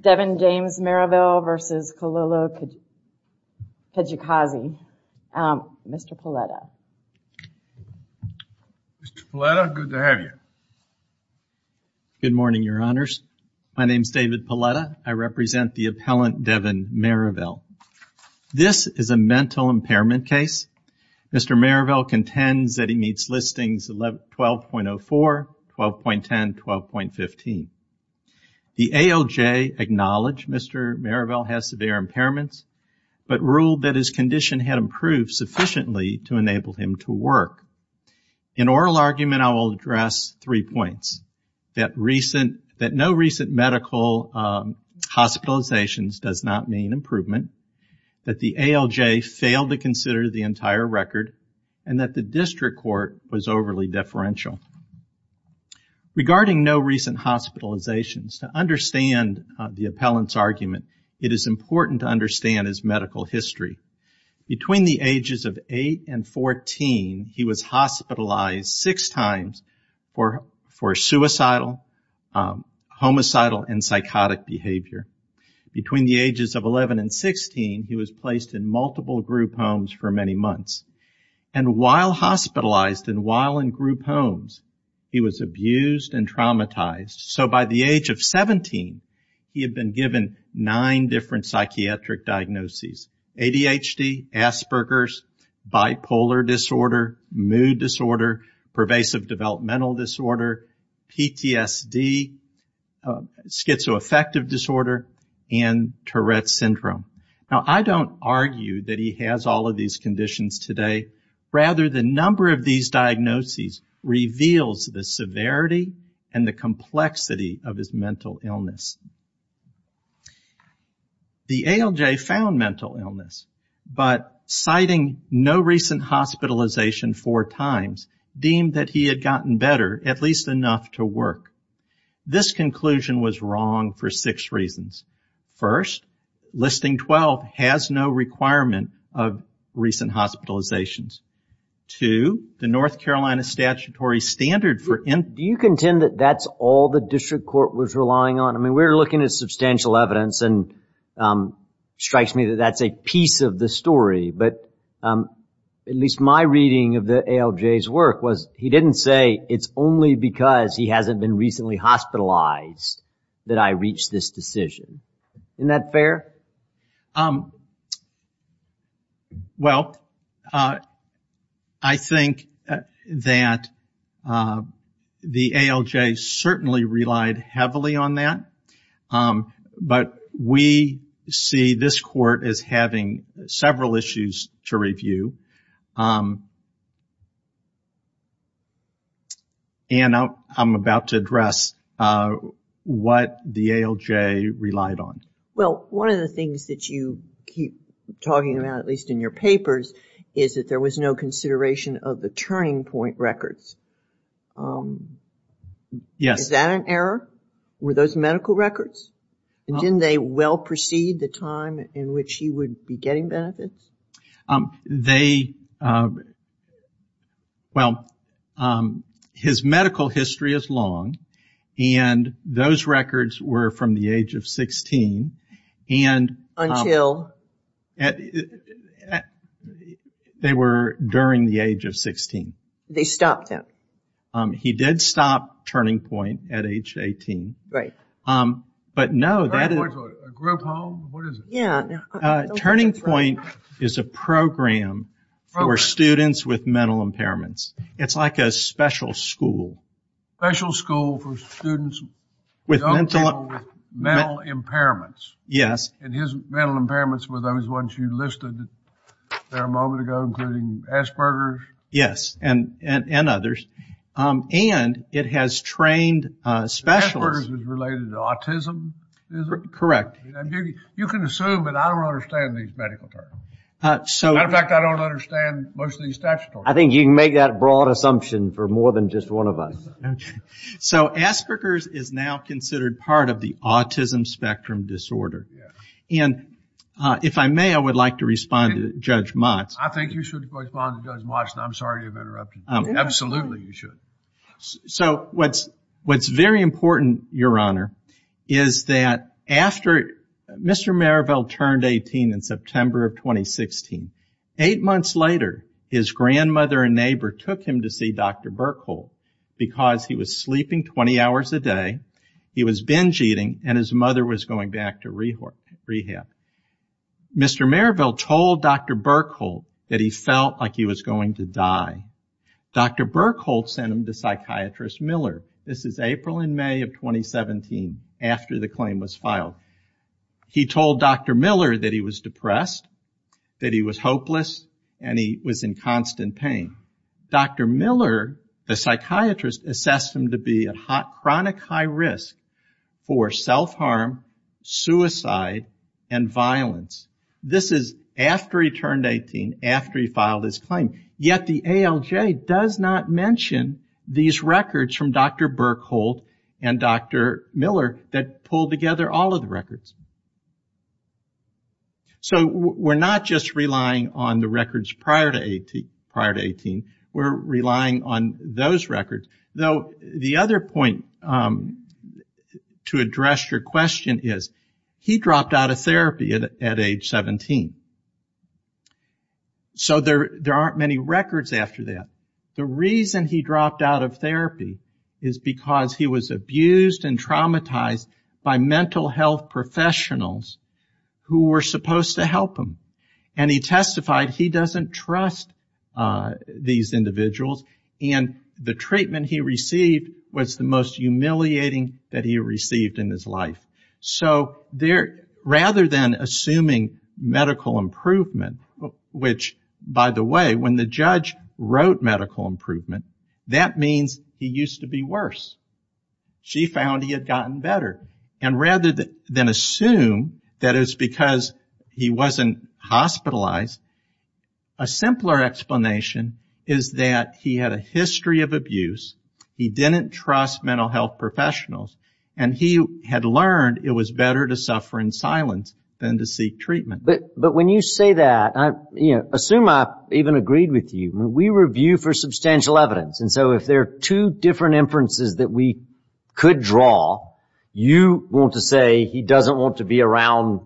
Devin James Maravel v. Kilolo Kijakazi Mr. Kijakazi, Mr. Palletta. Mr. Palletta, good to have you. Good morning, your honors. My name is David Palletta. I represent the appellant Devin Maravel. This is a mental impairment case. Mr. Maravel contends that he meets listings 12.04, 12.10, 12.15. The ALJ acknowledged Mr. Maravel has severe impairments, but ruled that his condition had improved sufficiently to enable him to work. In oral argument, I will address three points, that no recent medical hospitalizations does not mean improvement, that the ALJ failed to consider the entire record, and that the district court was overly deferential. It is important to understand his medical history. Between the ages of 8 and 14, he was hospitalized six times for suicidal, homicidal, and psychotic behavior. Between the ages of 11 and 16, he was placed in multiple group homes for many months. And while hospitalized and while in group homes, he was abused and traumatized. So by the age of 17, he had been given nine different psychiatric diagnoses, ADHD, Asperger's, bipolar disorder, mood disorder, pervasive developmental disorder, PTSD, schizoaffective disorder, and Tourette's syndrome. Now, I don't argue that he has all of these conditions today. Rather, the number of these diagnoses reveals the severity and the complexity of his mental illness. The ALJ found mental illness, but citing no recent hospitalization four times, deemed that he had gotten better, at least enough to work. This conclusion was wrong for six reasons. First, listing 12 has no requirement of recent hospitalizations. Two, the North Carolina statutory standard for in- Do you contend that that's all the district court was relying on? I mean, we're looking at substantial evidence, and it strikes me that that's a piece of the story. But at least my reading of the ALJ's work was, he didn't say it's only because he hasn't been recently hospitalized that I reached this decision. Isn't that fair? Well, I think that the ALJ certainly relied heavily on that, but we see this court as having several issues to review. Ann, I'm about to address what the ALJ relied on. Well, one of the things that you keep talking about, at least in your papers, is that there was no consideration of the turning point records. Yes. Is that an error? Were those medical records? Didn't they well precede the time in which he would be getting benefits? They, well, his medical history is long, and those records were from the age of 16, and- Until? They were during the age of 16. They stopped him. He did stop Turning Point at age 18. Right. But no, that is- Turning Point's a group home? What is it? Turning Point is a program for students with mental impairments. It's like a special school. Special school for students with mental impairments? Yes. And his mental impairments were those ones you listed there a moment ago, including Asperger's? Yes, and others. And it has trained specialists- Asperger's is related to autism? Correct. You can assume, but I don't understand these medical terms. As a matter of fact, I don't understand most of these statutories. I think you can make that broad assumption for more than just one of us. Okay. So Asperger's is now considered part of the autism spectrum disorder. Yes. And if I may, I would like to respond to Judge Motz. I think you should respond to Judge Motz, and I'm sorry to have interrupted. Absolutely, you should. So what's very important, Your Honor, is that after Mr. Merrillville turned 18 in September of 2016, eight months later his grandmother and neighbor took him to see Dr. Berkhold because he was sleeping 20 hours a day, he was binge eating, and his mother was going back to rehab. Mr. Merrillville told Dr. Berkhold that he felt like he was going to die. Dr. Berkhold sent him to psychiatrist Miller. This is April and May of 2017, after the claim was filed. He told Dr. Miller that he was depressed, that he was hopeless, and he was in constant pain. Dr. Miller, the psychiatrist, assessed him to be at chronic high risk for self-harm, suicide, and violence. This is after he turned 18, after he filed his claim. Yet the ALJ does not mention these records from Dr. Berkhold and Dr. Miller that pull together all of the records. So we're not just relying on the records prior to 18, we're relying on those records. Though the other point to address your question is, he dropped out of therapy at age 17. So there aren't many records after that. The reason he dropped out of therapy is because he was abused and traumatized by mental health professionals who were supposed to help him. And he testified he doesn't trust these individuals, and the treatment he received was the most humiliating that he received in his life. So rather than assuming medical improvement, which, by the way, when the judge wrote medical improvement, that means he used to be worse. She found he had gotten better. And rather than assume that it's because he wasn't hospitalized, a simpler explanation is that he had a history of abuse, he didn't trust mental health professionals, and he had learned it was better to suffer in silence than to seek treatment. But when you say that, assume I even agreed with you. We review for substantial evidence. And so if there are two different inferences that we could draw, you want to say he doesn't want to be around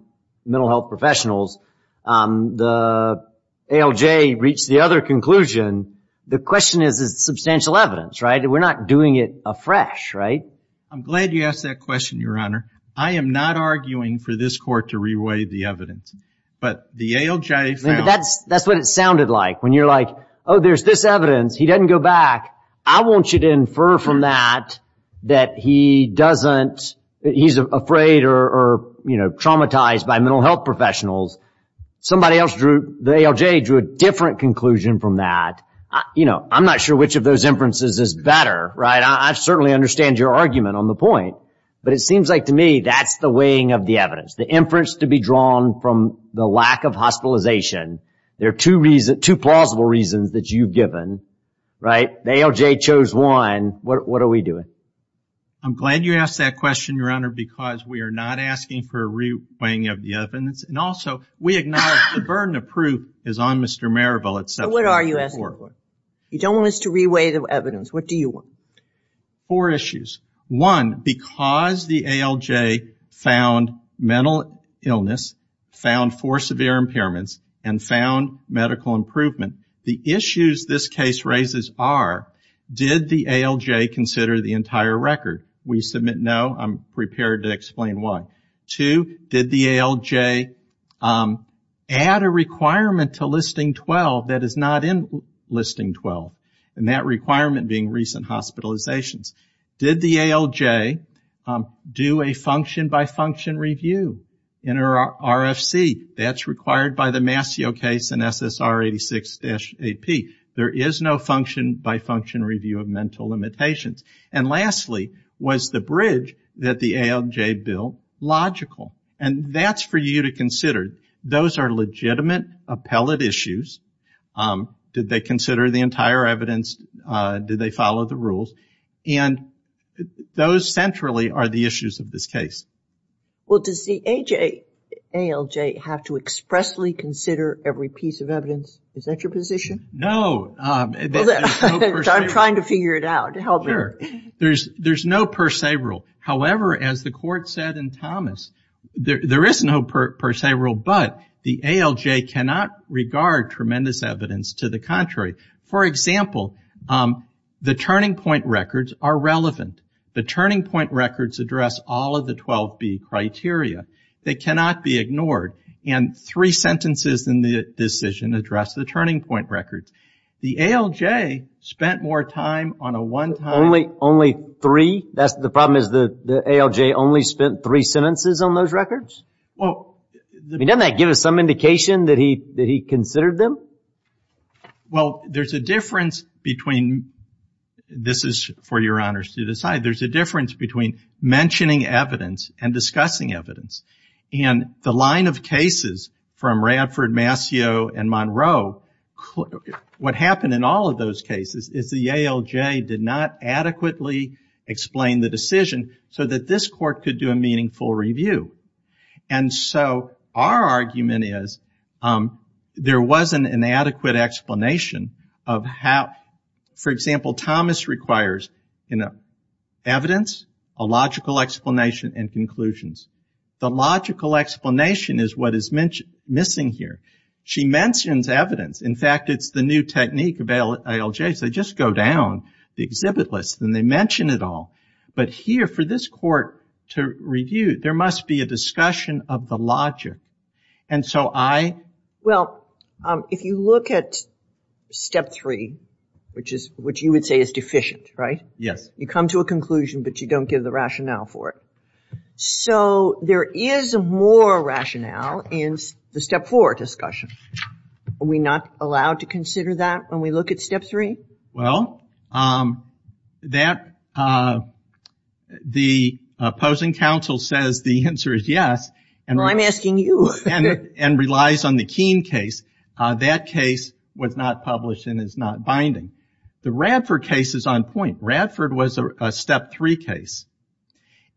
mental health professionals. The ALJ reached the other conclusion. The question is, is it substantial evidence, right? We're not doing it afresh, right? I'm glad you asked that question, Your Honor. I am not arguing for this court to reweigh the evidence. But the ALJ found. That's what it sounded like, when you're like, oh, there's this evidence. He doesn't go back. I want you to infer from that that he's afraid or traumatized by mental health professionals. Somebody else, the ALJ, drew a different conclusion from that. I'm not sure which of those inferences is better, right? I certainly understand your argument on the point. But it seems like to me that's the weighing of the evidence, the inference to be drawn from the lack of hospitalization. There are two plausible reasons that you've given, right? The ALJ chose one. What are we doing? I'm glad you asked that question, Your Honor, because we are not asking for a reweighing of the evidence. And also, we acknowledge the burden of proof is on Mr. Marable. So what are you asking for? You don't want us to reweigh the evidence. What do you want? Four issues. One, because the ALJ found mental illness, found four severe impairments, and found medical improvement, the issues this case raises are, did the ALJ consider the entire record? We submit no. I'm prepared to explain why. Two, did the ALJ add a requirement to Listing 12 that is not in Listing 12? And that requirement being recent hospitalizations. Did the ALJ do a function-by-function review in RFC? That's required by the Mascio case in SSR 86-AP. There is no function-by-function review of mental limitations. And lastly, was the bridge that the ALJ built logical? And that's for you to consider. Those are legitimate appellate issues. Did they consider the entire evidence? Did they follow the rules? And those centrally are the issues of this case. Well, does the ALJ have to expressly consider every piece of evidence? Is that your position? No. I'm trying to figure it out. Help me. Sure. There's no per se rule. However, as the Court said in Thomas, there is no per se rule, but the ALJ cannot regard tremendous evidence to the contrary. For example, the turning point records are relevant. The turning point records address all of the 12B criteria. They cannot be ignored. And three sentences in the decision address the turning point records. The ALJ spent more time on a one-time. Only three? The problem is the ALJ only spent three sentences on those records? Doesn't that give us some indication that he considered them? Well, there's a difference between, this is for your honors to decide, there's a difference between mentioning evidence and discussing evidence. And the line of cases from Radford, Mascio, and Monroe, what happened in all of those cases is the ALJ did not adequately explain the decision so that this Court could do a meaningful review. And so our argument is there was an inadequate explanation of how, for example, Thomas requires evidence, a logical explanation, and conclusions. The logical explanation is what is missing here. She mentions evidence. In fact, it's the new technique of ALJs. They just go down the exhibit list and they mention it all. But here, for this Court to review, there must be a discussion of the logic. And so I ‑‑ Well, if you look at step three, which you would say is deficient, right? Yes. You come to a conclusion, but you don't give the rationale for it. So there is more rationale in the step four discussion. Are we not allowed to consider that when we look at step three? Well, the opposing counsel says the answer is yes. Well, I'm asking you. And relies on the Keene case. That case was not published and is not binding. The Radford case is on point. Radford was a step three case.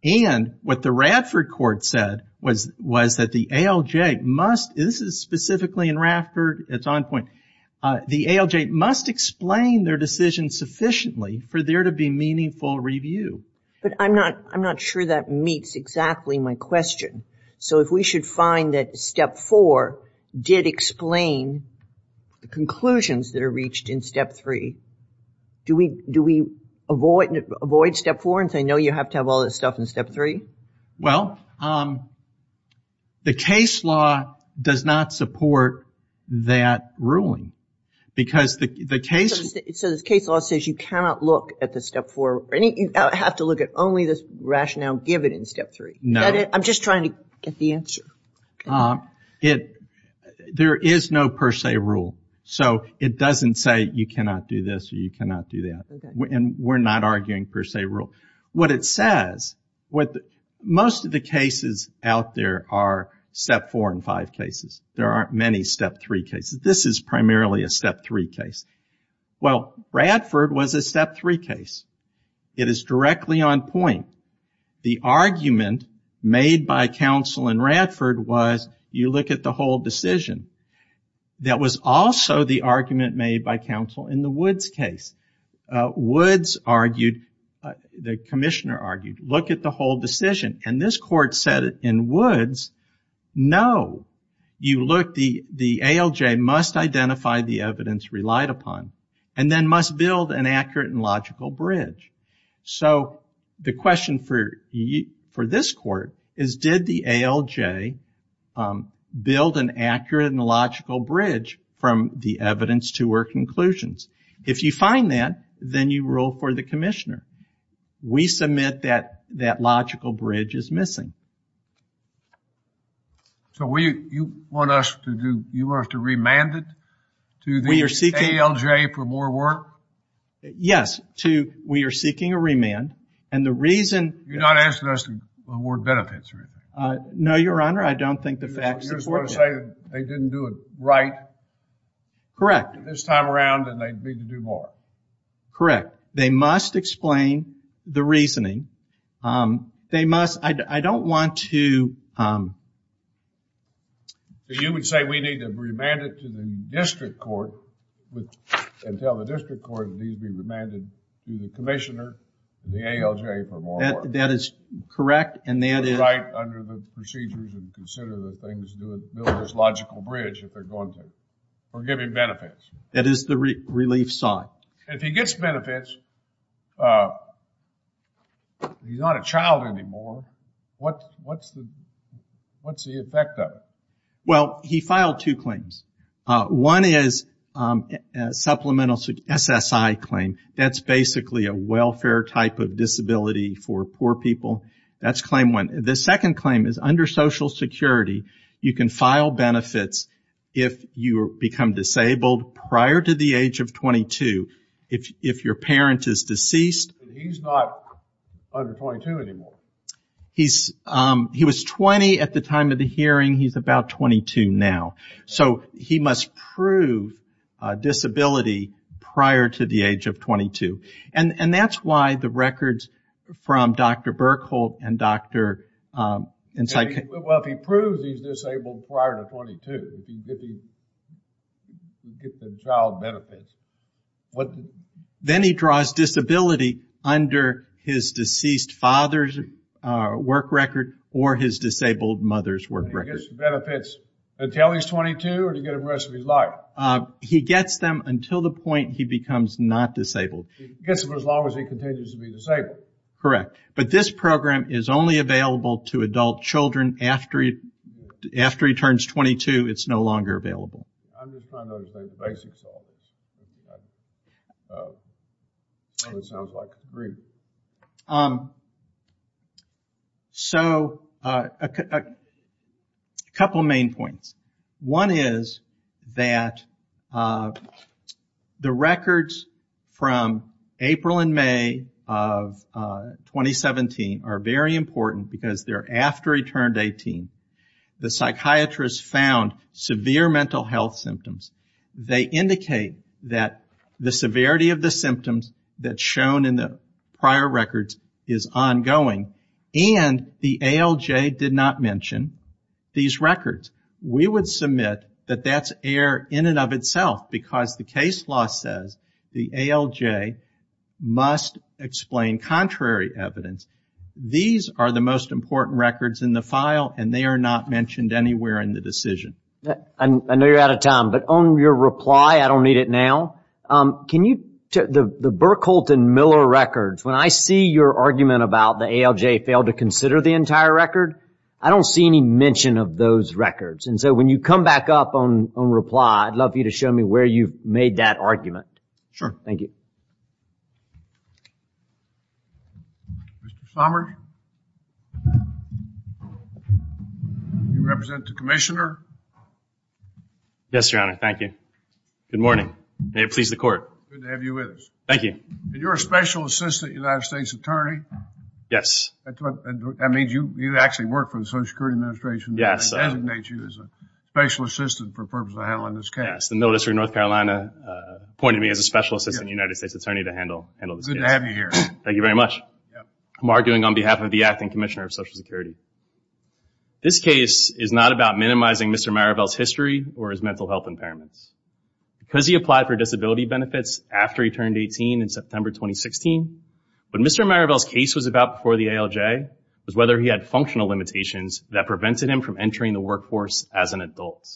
And what the Radford Court said was that the ALJ must ‑‑ this is specifically in Radford. It's on point. The ALJ must explain their decision sufficiently for there to be meaningful review. But I'm not sure that meets exactly my question. So if we should find that step four did explain the conclusions that are reached in step three, do we avoid step four and say, no, you have to have all this stuff in step three? Well, the case law does not support that ruling. Because the case ‑‑ So the case law says you cannot look at the step four. You have to look at only the rationale given in step three. No. I'm just trying to get the answer. There is no per se rule. So it doesn't say you cannot do this or you cannot do that. And we're not arguing per se rule. What it says, most of the cases out there are step four and five cases. There aren't many step three cases. This is primarily a step three case. Well, Radford was a step three case. It is directly on point. The argument made by counsel in Radford was you look at the whole decision. That was also the argument made by counsel in the Woods case. Woods argued, the commissioner argued, look at the whole decision. And this court said in Woods, no, you look, the ALJ must identify the evidence relied upon and then must build an accurate and logical bridge. So the question for this court is did the ALJ build an accurate and logical bridge from the evidence to her conclusions? If you find that, then you rule for the commissioner. We submit that that logical bridge is missing. So you want us to remand it to the ALJ for more work? Yes, we are seeking a remand. You're not asking us to award benefits or anything? No, Your Honor, I don't think the facts support that. You're just going to say they didn't do it right? Correct. They did it this time around and they need to do more. Correct. They must explain the reasoning. They must, I don't want to. You would say we need to remand it to the district court and tell the district court it needs to be remanded to the commissioner, the ALJ for more work. That is correct and that is. Right under the procedures and consider the things, logical bridge if they're going to. We're giving benefits. That is the relief sought. If he gets benefits, he's not a child anymore, what's the effect of it? Well, he filed two claims. One is supplemental SSI claim. That's basically a welfare type of disability for poor people. That's claim one. The second claim is under social security, you can file benefits if you become disabled prior to the age of 22. If your parent is deceased. He's not under 22 anymore. He was 20 at the time of the hearing. He's about 22 now. So he must prove disability prior to the age of 22. And that's why the records from Dr. Berkholdt and Dr. Insight. Well, if he proves he's disabled prior to 22, he can get the child benefits. Then he draws disability under his deceased father's work record or his disabled mother's work record. He gets benefits until he's 22 or to get the rest of his life? He gets them until the point he becomes not disabled. He gets them as long as he continues to be disabled. Correct. But this program is only available to adult children after he turns 22. It's no longer available. I'm just trying to understand the basics of this. It sounds like a brief. So, a couple of main points. One is that the records from April and May of 2017 are very important because they're after he turned 18. The psychiatrist found severe mental health symptoms. They indicate that the severity of the symptoms that's shown in the prior records is ongoing. And the ALJ did not mention these records. We would submit that that's error in and of itself because the case law says the ALJ must explain contrary evidence. These are the most important records in the file, and they are not mentioned anywhere in the decision. I know you're out of time, but on your reply, I don't need it now. The Burkholz and Miller records, when I see your argument about the ALJ failed to consider the entire record, I don't see any mention of those records. And so when you come back up on reply, I'd love for you to show me where you've made that argument. Sure. Thank you. Mr. Somers? Do you represent the commissioner? Yes, Your Honor. Thank you. Good morning. May it please the Court. Good to have you with us. Thank you. You're a special assistant United States attorney? Yes. That means you actually work for the Social Security Administration. Yes. I designate you as a special assistant for the purpose of handling this case. Yes. The military of North Carolina appointed me as a special assistant United States attorney to handle this case. Good to have you here. Thank you very much. I'm arguing on behalf of the acting commissioner of Social Security. This case is not about minimizing Mr. Maribel's history or his mental health impairments. Because he applied for disability benefits after he turned 18 in September 2016, what Mr. Maribel's case was about before the ALJ was whether he had functional limitations that prevented him from entering the workforce as an adult.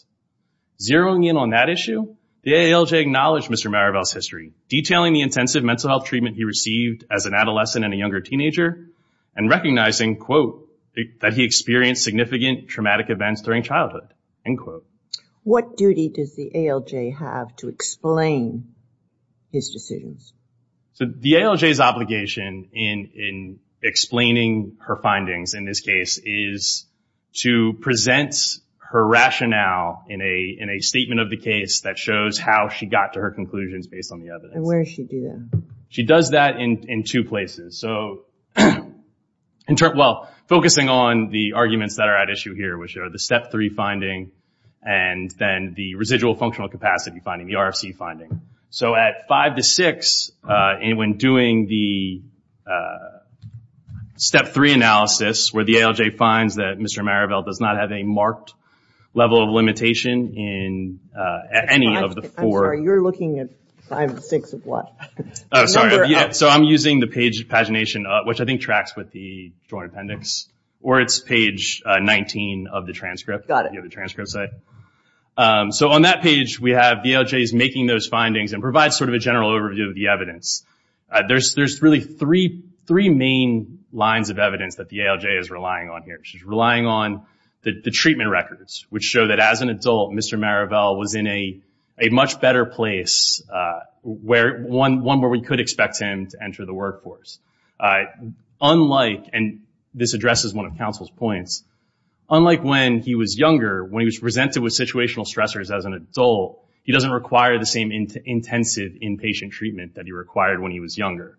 Zeroing in on that issue, the ALJ acknowledged Mr. Maribel's history, detailing the intensive mental health treatment he received as an adolescent and a younger teenager, and recognizing, quote, that he experienced significant traumatic events during childhood, end quote. What duty does the ALJ have to explain his decisions? The ALJ's obligation in explaining her findings in this case is to present her rationale in a statement of the case that shows how she got to her conclusions based on the evidence. And where does she do that? She does that in two places. So focusing on the arguments that are at issue here, which are the step three finding and then the residual functional capacity finding, the RFC finding. So at five to six, when doing the step three analysis, where the ALJ finds that Mr. Maribel does not have a marked level of limitation in any of the four. I'm sorry, you're looking at five to six of what? Oh, sorry. So I'm using the page pagination, which I think tracks with the joint appendix, or it's page 19 of the transcript. Got it. You have the transcript site. So on that page we have the ALJ's making those findings and provides sort of a general overview of the evidence. There's really three main lines of evidence that the ALJ is relying on here. She's relying on the treatment records, which show that as an adult, Mr. Maribel was in a much better place, one where we could expect him to enter the workforce. Unlike, and this addresses one of counsel's points, unlike when he was younger, when he was presented with situational stressors as an adult, he doesn't require the same intensive inpatient treatment that he required when he was younger.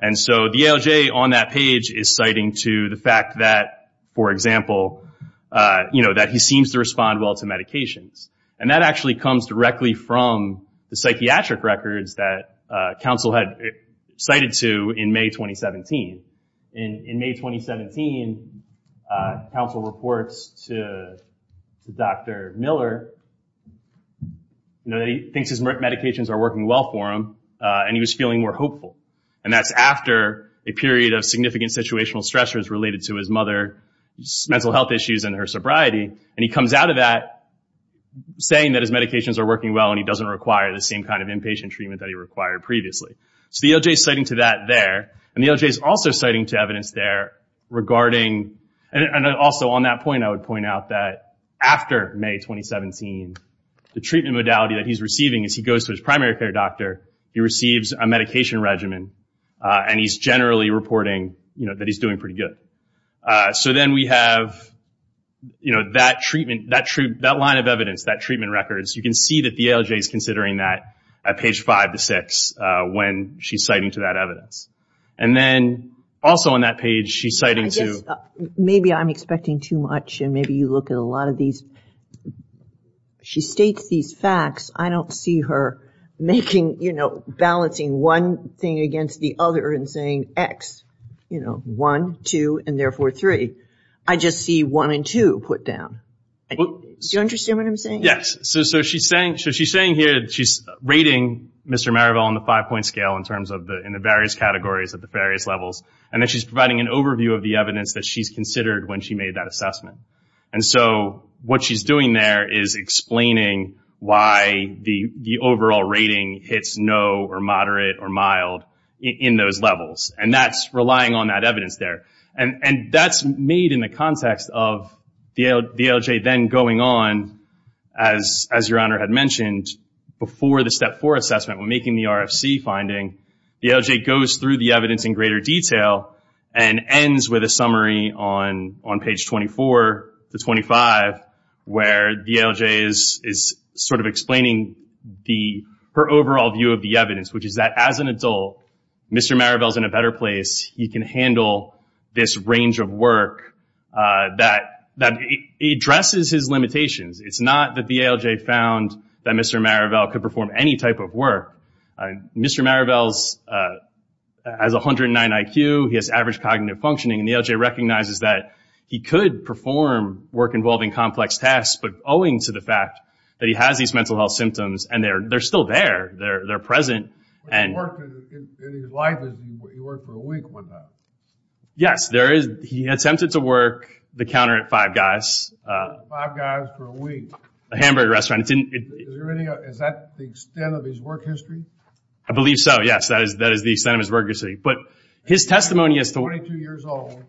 And so the ALJ on that page is citing to the fact that, for example, that he seems to respond well to medications. And that actually comes directly from the psychiatric records that counsel had cited to in May 2017. In May 2017, counsel reports to Dr. Miller that he thinks his medications are working well for him, and he was feeling more hopeful. And that's after a period of significant situational stressors related to his mother, her mental health issues, and her sobriety. And he comes out of that saying that his medications are working well, and he doesn't require the same kind of inpatient treatment that he required previously. So the ALJ is citing to that there, and the ALJ is also citing to evidence there regarding, and also on that point I would point out that after May 2017, the treatment modality that he's receiving is he goes to his primary care doctor, he receives a medication regimen, and he's generally reporting that he's doing pretty good. So then we have that treatment, that line of evidence, that treatment record. You can see that the ALJ is considering that at page five to six when she's citing to that evidence. And then also on that page she's citing to. I guess maybe I'm expecting too much, and maybe you look at a lot of these. She states these facts. I don't see her making, you know, balancing one thing against the other and saying X, you know, one, two, and therefore three. I just see one and two put down. Do you understand what I'm saying? Yes. So she's saying here that she's rating Mr. Maribel on the five-point scale in terms of the various categories at the various levels, and that she's providing an overview of the evidence that she's considered when she made that assessment. And so what she's doing there is explaining why the overall rating hits no or moderate or mild in those levels, and that's relying on that evidence there. And that's made in the context of the ALJ then going on, as Your Honor had mentioned, before the step four assessment when making the RFC finding, the ALJ goes through the evidence in greater detail and ends with a summary on page 24 to 25 where the ALJ is sort of explaining her overall view of the evidence, which is that as an adult, Mr. Maribel is in a better place. He can handle this range of work that addresses his limitations. It's not that the ALJ found that Mr. Maribel could perform any type of work. Mr. Maribel has 109 IQ. He has average cognitive functioning, and the ALJ recognizes that he could perform work involving complex tasks, but owing to the fact that he has these mental health symptoms, and they're still there. They're present. He worked for a week with them. Yes. He attempted to work the counter at Five Guys. Five Guys for a week. A hamburger restaurant. Is that the extent of his work history? I believe so, yes. That is the extent of his work history, but his testimony is 22 years old.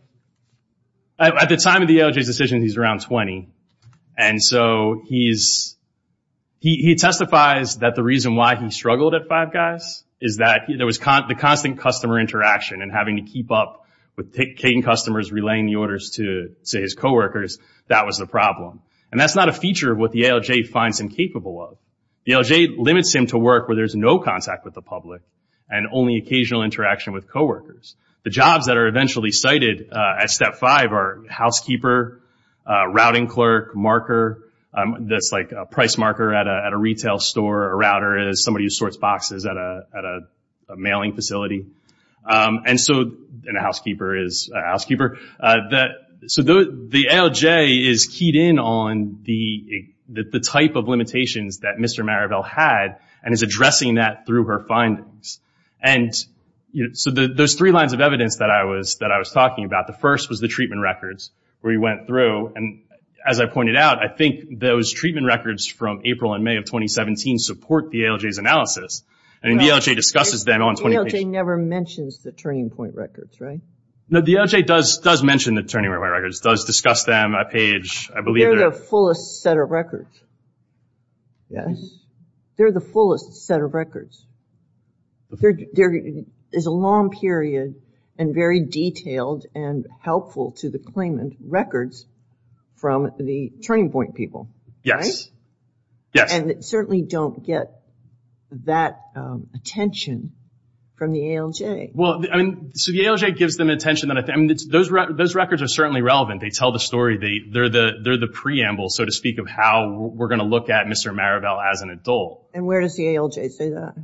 At the time of the ALJ's decision, he's around 20, and so he testifies that the reason why he struggled at Five Guys is that there was the constant customer interaction and having to keep up with taking customers, relaying the orders to his coworkers. That was the problem. And that's not a feature of what the ALJ finds him capable of. The ALJ limits him to work where there's no contact with the public and only occasional interaction with coworkers. The jobs that are eventually cited at Step 5 are housekeeper, routing clerk, marker. That's like a price marker at a retail store, a router is somebody who sorts boxes at a mailing facility. And a housekeeper is a housekeeper. The ALJ is keyed in on the type of limitations that Mr. Maribel had and is addressing that through her findings. There's three lines of evidence that I was talking about. The first was the treatment records where he went through. As I pointed out, I think those treatment records from April and May of 2017 support the ALJ's analysis. The ALJ discusses them on 20 pages. The ALJ never mentions the turning point records, right? No, the ALJ does mention the turning point records, does discuss them, a page, I believe. They're the fullest set of records. Yes. They're the fullest set of records. There is a long period and very detailed and helpful to the claimant records from the turning point people. Yes. And they certainly don't get that attention from the ALJ. The ALJ gives them attention. Those records are certainly relevant. They tell the story. They're the preamble, so to speak, of how we're going to look at Mr. Maribel as an adult. And where does the ALJ say that?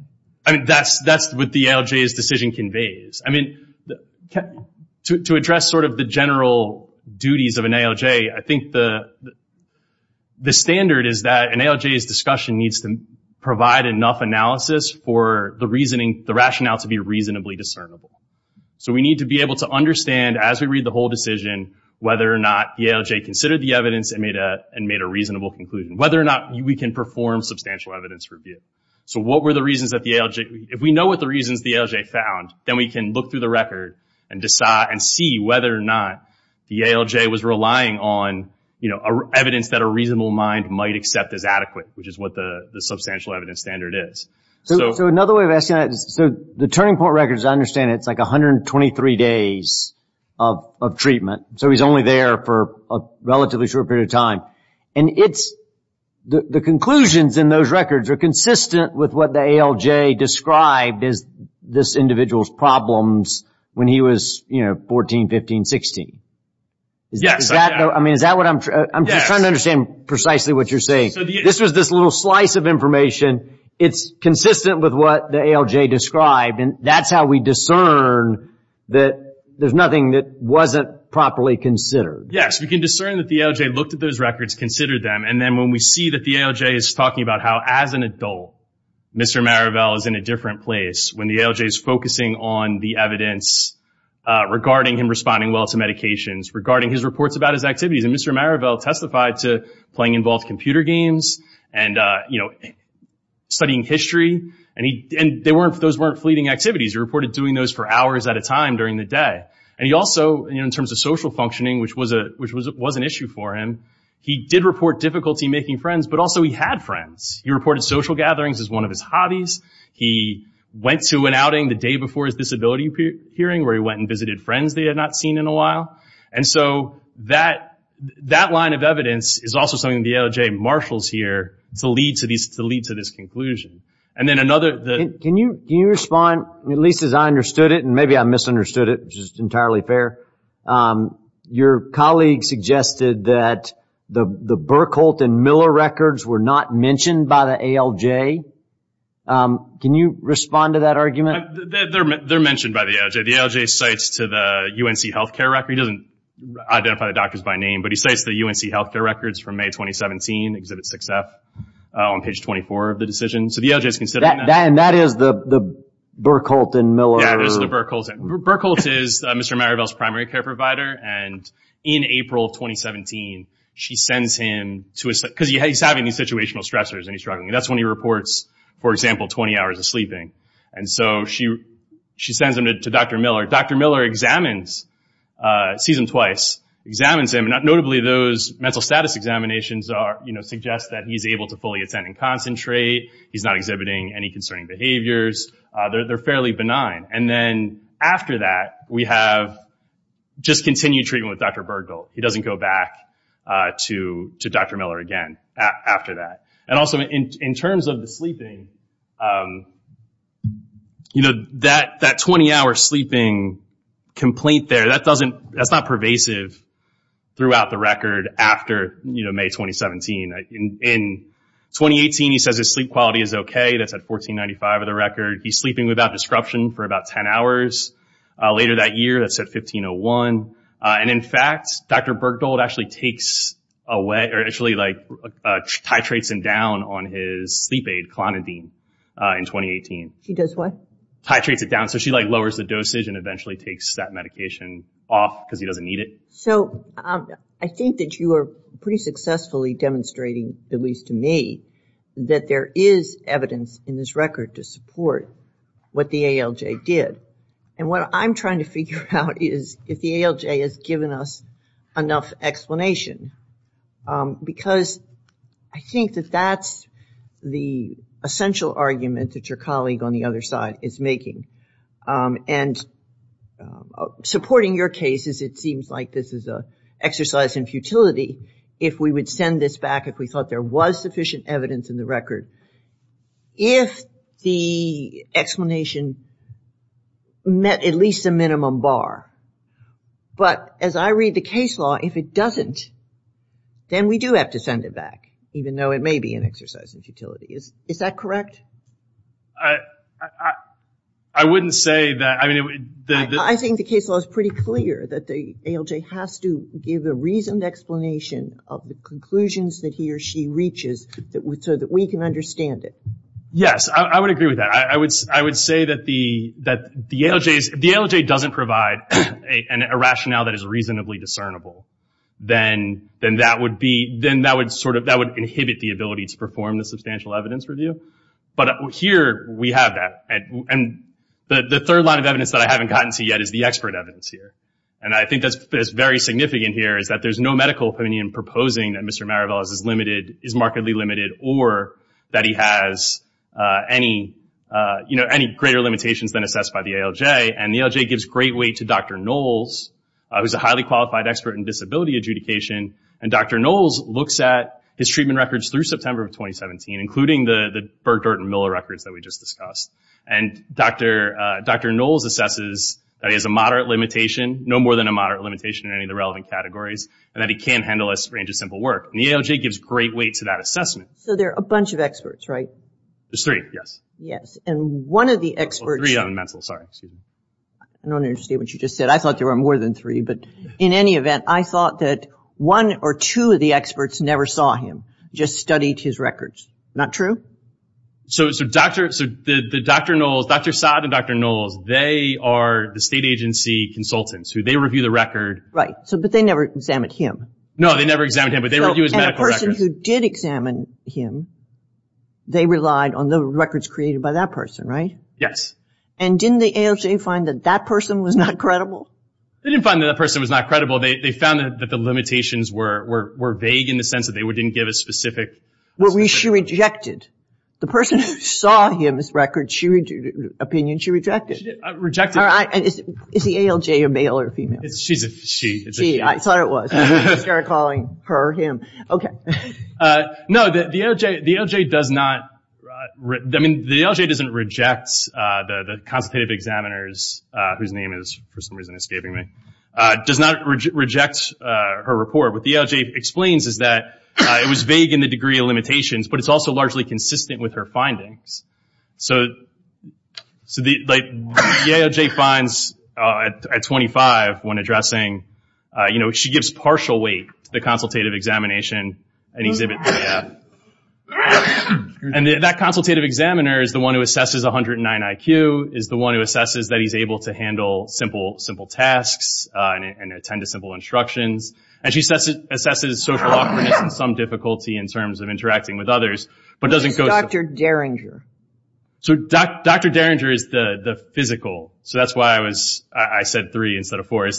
That's what the ALJ's decision conveys. To address sort of the general duties of an ALJ, I think the standard is that an ALJ's discussion needs to provide enough analysis for the rationale to be reasonably discernible. So we need to be able to understand, as we read the whole decision, whether or not the ALJ considered the evidence and made a reasonable conclusion, whether or not we can perform substantial evidence review. So what were the reasons that the ALJ? If we know what the reasons the ALJ found, then we can look through the record and see whether or not the ALJ was relying on evidence that a reasonable mind might accept as adequate, which is what the substantial evidence standard is. So another way of asking that is the turning point records, I understand it's like 123 days of treatment. So he's only there for a relatively short period of time. The conclusions in those records are consistent with what the ALJ described as this individual's problems when he was 14, 15, 16. Yes. I'm just trying to understand precisely what you're saying. This was this little slice of information. It's consistent with what the ALJ described, and that's how we discern that there's nothing that wasn't properly considered. Yes, we can discern that the ALJ looked at those records, considered them, and then when we see that the ALJ is talking about how as an adult Mr. Marivelle is in a different place, when the ALJ is focusing on the evidence regarding him responding well to medications, regarding his reports about his activities, and Mr. Marivelle testified to playing involved computer games and studying history, and those weren't fleeting activities. He reported doing those for hours at a time during the day. And he also, in terms of social functioning, which was an issue for him, he did report difficulty making friends, but also he had friends. He reported social gatherings as one of his hobbies. He went to an outing the day before his disability hearing where he went and visited friends that he had not seen in a while. And so that line of evidence is also something the ALJ marshals here to lead to this conclusion. Can you respond, at least as I understood it, and maybe I misunderstood it, which is entirely fair. Your colleague suggested that the Burkholtz and Miller records were not mentioned by the ALJ. Can you respond to that argument? They're mentioned by the ALJ. The ALJ cites to the UNC Health Care Records. He doesn't identify the doctors by name, but he cites the UNC Health Care Records from May 2017, Exhibit 6F on page 24 of the decision. So the ALJ is considering that. And that is the Burkholtz and Miller? Yeah, that is the Burkholtz. Burkholtz is Mr. Maribel's primary care provider. And in April of 2017, she sends him to his— because he's having these situational stressors and he's struggling. That's when he reports, for example, 20 hours of sleeping. And so she sends him to Dr. Miller. Dr. Miller examines, sees him twice, examines him. Notably, those mental status examinations suggest that he's able to fully attend and concentrate. He's not exhibiting any concerning behaviors. They're fairly benign. And then after that, we have just continued treatment with Dr. Burkholtz. He doesn't go back to Dr. Miller again after that. And also, in terms of the sleeping, that 20-hour sleeping complaint there, that's not pervasive throughout the record after May 2017. In 2018, he says his sleep quality is okay. That's at 1495, for the record. He's sleeping without disruption for about 10 hours. Later that year, that's at 1501. And, in fact, Dr. Burkholtz actually takes away— or actually, like, titrates him down on his sleep aid, Clonidine, in 2018. She does what? Titrates it down. So she, like, lowers the dosage and eventually takes that medication off because he doesn't need it. So I think that you are pretty successfully demonstrating, at least to me, that there is evidence in this record to support what the ALJ did. And what I'm trying to figure out is if the ALJ has given us enough explanation because I think that that's the essential argument that your colleague on the other side is making. And supporting your case is it seems like this is an exercise in futility if we would send this back if we thought there was sufficient evidence in the record if the explanation met at least a minimum bar. But as I read the case law, if it doesn't, then we do have to send it back, even though it may be an exercise in futility. Is that correct? I wouldn't say that. I think the case law is pretty clear that the ALJ has to give a reasoned explanation of the conclusions that he or she reaches so that we can understand it. Yes, I would agree with that. I would say that if the ALJ doesn't provide a rationale that is reasonably discernible, then that would inhibit the ability to perform the substantial evidence review. But here we have that. And the third line of evidence that I haven't gotten to yet is the expert evidence here. And I think that's very significant here is that there's no medical opinion proposing that Mr. Mariveles is markedly limited or that he has any greater limitations than assessed by the ALJ. And the ALJ gives great weight to Dr. Knowles, who's a highly qualified expert in disability adjudication. And Dr. Knowles looks at his treatment records through September of 2017, including the Bergdorf and Miller records that we just discussed. And Dr. Knowles assesses that he has a moderate limitation, no more than a moderate limitation in any of the relevant categories, and that he can handle a range of simple work. And the ALJ gives great weight to that assessment. So there are a bunch of experts, right? There's three, yes. Yes. And one of the experts. Three on mental, sorry. I don't understand what you just said. I thought there were more than three. But in any event, I thought that one or two of the experts never saw him, just studied his records. Not true? So Dr. Knowles, Dr. Saad and Dr. Knowles, they are the state agency consultants. They review the record. Right. But they never examined him. No, they never examined him, but they review his medical records. But the person who did examine him, they relied on the records created by that person, right? Yes. And didn't the ALJ find that that person was not credible? They didn't find that that person was not credible. They found that the limitations were vague in the sense that they didn't give a specific assessment. Well, she rejected. The person who saw him's opinion, she rejected. Rejected. Is the ALJ a male or a female? She's a she. She, I thought it was. I started calling her him. Okay. No, the ALJ does not, I mean, the ALJ doesn't reject the consultative examiners, whose name is for some reason escaping me, does not reject her report. What the ALJ explains is that it was vague in the degree of limitations, but it's also largely consistent with her findings. So the ALJ finds at 25, when addressing, you know, she gives partial weight to the consultative examination and exhibits that. And that consultative examiner is the one who assesses 109 IQ, is the one who assesses that he's able to handle simple tasks and attend to simple instructions. And she assesses social awkwardness and some difficulty in terms of interacting with others. Who is Dr. Derringer? So Dr. Derringer is the physical. So that's why I was, I said three instead of four. I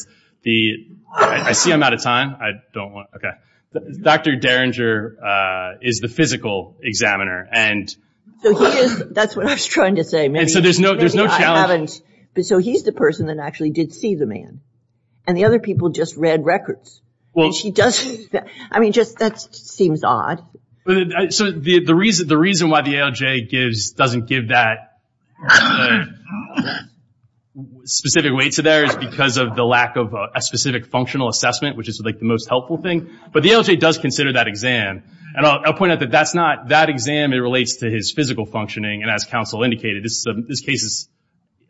see I'm out of time. I don't want, okay. Dr. Derringer is the physical examiner. So he is, that's what I was trying to say. So there's no challenge. So he's the person that actually did see the man. And the other people just read records. I mean, that seems odd. So the reason why the ALJ doesn't give that specific weight to there is because of the lack of a specific functional assessment, which is like the most helpful thing. But the ALJ does consider that exam. And I'll point out that that's not that exam. It relates to his physical functioning. And as counsel indicated, this case is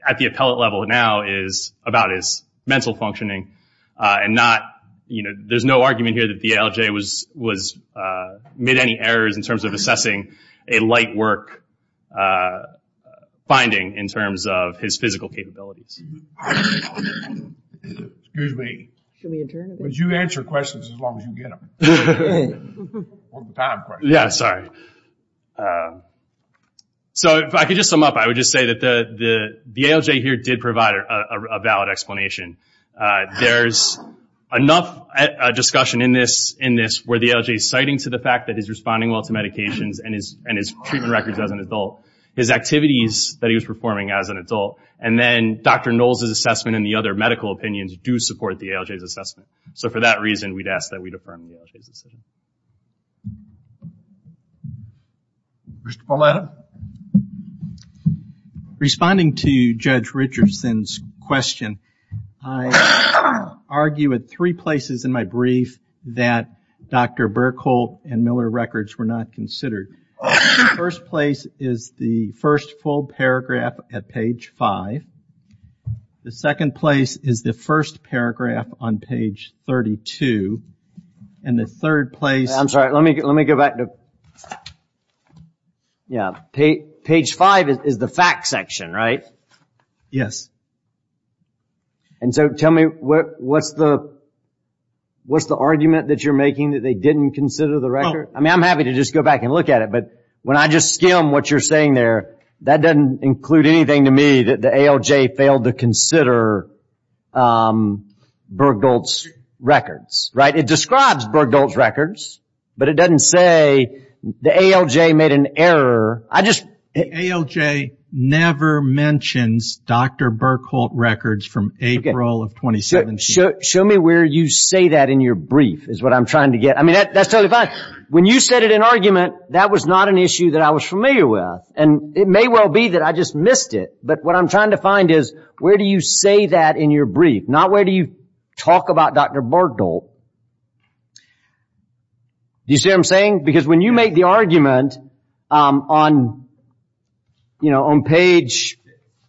at the appellate level now is about his mental functioning and not, you know, there's no argument here that the ALJ made any errors in terms of assessing a light work finding in terms of his physical capabilities. Excuse me. Would you answer questions as long as you get them? Yeah, sorry. So if I could just sum up, I would just say that the ALJ here did provide a valid explanation. There's enough discussion in this where the ALJ is citing to the fact that he's responding well to medications and his treatment records as an adult, his activities that he was performing as an adult, and then Dr. Knowles' assessment and the other medical opinions do support the ALJ's assessment. So for that reason, we'd ask that we defer to the ALJ's decision. Mr. Pauletta? Responding to Judge Richardson's question, I argue at three places in my brief that Dr. Buerkle and Miller records were not considered. The first place is the first full paragraph at page 5. The second place is the first paragraph on page 32. I'm sorry, let me go back. Page 5 is the fact section, right? Yes. Tell me, what's the argument that you're making that they didn't consider the record? I'm happy to just go back and look at it, but when I just skim what you're saying there, that doesn't include anything to me that the ALJ failed to consider Buerkle's records, right? It describes Buerkle's records, but it doesn't say the ALJ made an error. The ALJ never mentions Dr. Buerkle records from April of 2017. Show me where you say that in your brief is what I'm trying to get. I mean, that's totally fine. When you said it in argument, that was not an issue that I was familiar with. And it may well be that I just missed it. But what I'm trying to find is where do you say that in your brief, not where do you talk about Dr. Buerkle. You see what I'm saying? Because when you make the argument on page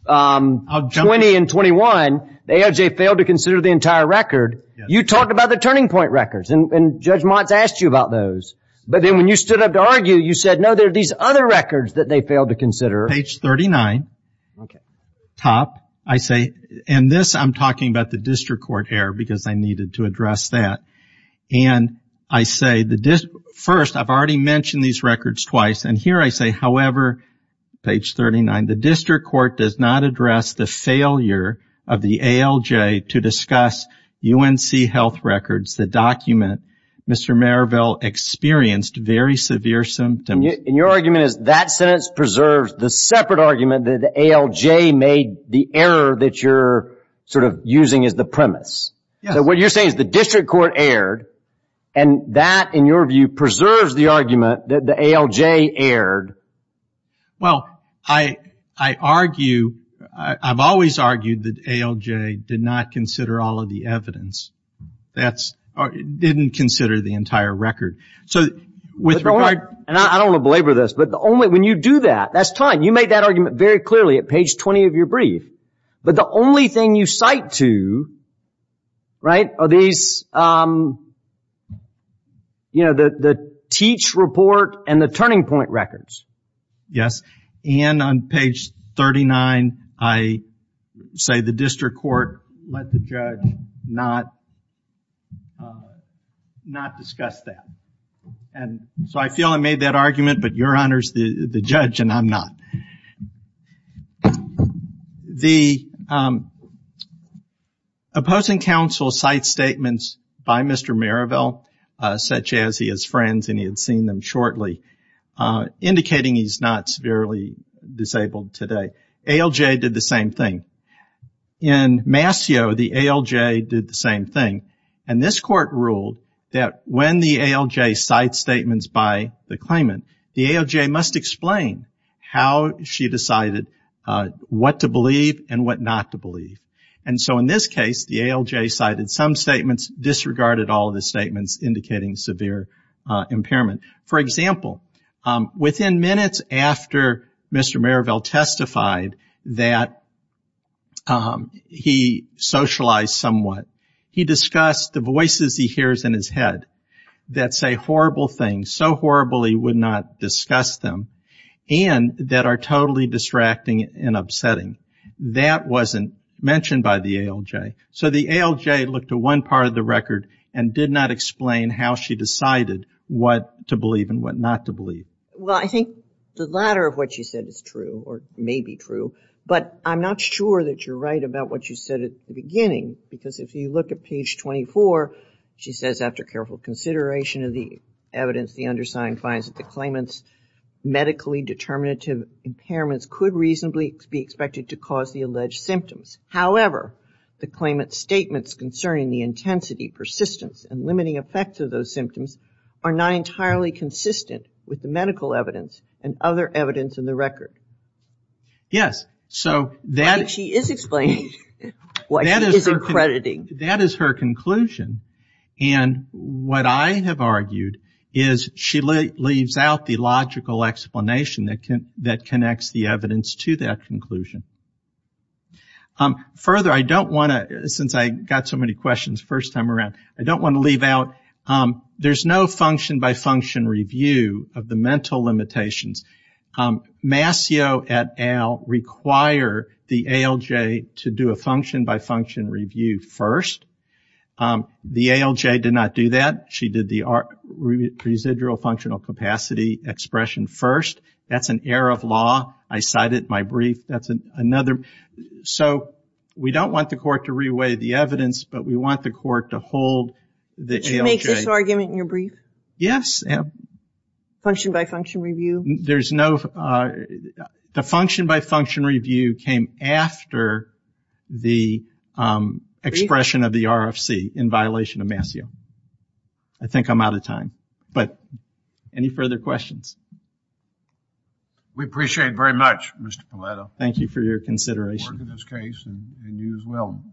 20 and 21, the ALJ failed to consider the entire record. You talk about the turning point records, and Judge Mott's asked you about those. But then when you stood up to argue, you said, no, there are these other records that they failed to consider. Page 39, top. I say, and this I'm talking about the district court error because I needed to address that. And I say, first, I've already mentioned these records twice. And here I say, however, page 39, the district court does not address the failure of the ALJ to discuss UNC health records. The document, Mr. Merrillville experienced very severe symptoms. And your argument is that sentence preserves the separate argument that the ALJ made the error that you're sort of using as the premise. So what you're saying is the district court erred, and that, in your view, preserves the argument that the ALJ erred. Well, I argue, I've always argued that ALJ did not consider all of the evidence. That's, didn't consider the entire record. And I don't want to belabor this, but the only, when you do that, that's fine. You made that argument very clearly at page 20 of your brief. But the only thing you cite to, right, are these, you know, the teach report and the turning point records. Yes. And on page 39, I say the district court let the judge not discuss that. And so I feel I made that argument, but your honor's the judge and I'm not. The opposing counsel cite statements by Mr. Merrillville, such as he has friends and he had seen them shortly, indicating he's not severely disabled today. ALJ did the same thing. In Mascio, the ALJ did the same thing. And this court ruled that when the ALJ cites statements by the claimant, the ALJ must explain how she decided what to believe and what not to believe. And so in this case, the ALJ cited some statements, disregarded all of the statements indicating severe impairment. For example, within minutes after Mr. Merrillville testified that he socialized somewhat, he discussed the voices he hears in his head that say horrible things, so horrible he would not discuss them, and that are totally distracting and upsetting. That wasn't mentioned by the ALJ. So the ALJ looked at one part of the record and did not explain how she decided what to believe and what not to believe. Well, I think the latter of what she said is true, or may be true, but I'm not sure that you're right about what you said at the beginning. Because if you look at page 24, she says, after careful consideration of the evidence, the undersigned finds that the claimant's medically determinative impairments could reasonably be expected to cause the alleged symptoms. However, the claimant's statements concerning the intensity, persistence, and limiting effects of those symptoms are not entirely consistent with the medical evidence and other evidence in the record. Yes. She is explaining what she is accrediting. That is her conclusion. And what I have argued is she leaves out the logical explanation that connects the evidence to that conclusion. Further, I don't want to, since I got so many questions the first time around, I don't want to leave out, there's no function-by-function review of the mental limitations. Mascio et al. require the ALJ to do a function-by-function review first. The ALJ did not do that. She did the residual functional capacity expression first. That's an error of law. I cite it in my brief. That's another. So we don't want the court to re-weigh the evidence, but we want the court to hold the ALJ. She makes this argument in your brief? Yes. Function-by-function review? There's no. The function-by-function review came after the expression of the RFC in violation of Mascio. I think I'm out of time. But any further questions? We appreciate it very much, Mr. Paleto. Thank you for your consideration. I look forward to this case and you as well.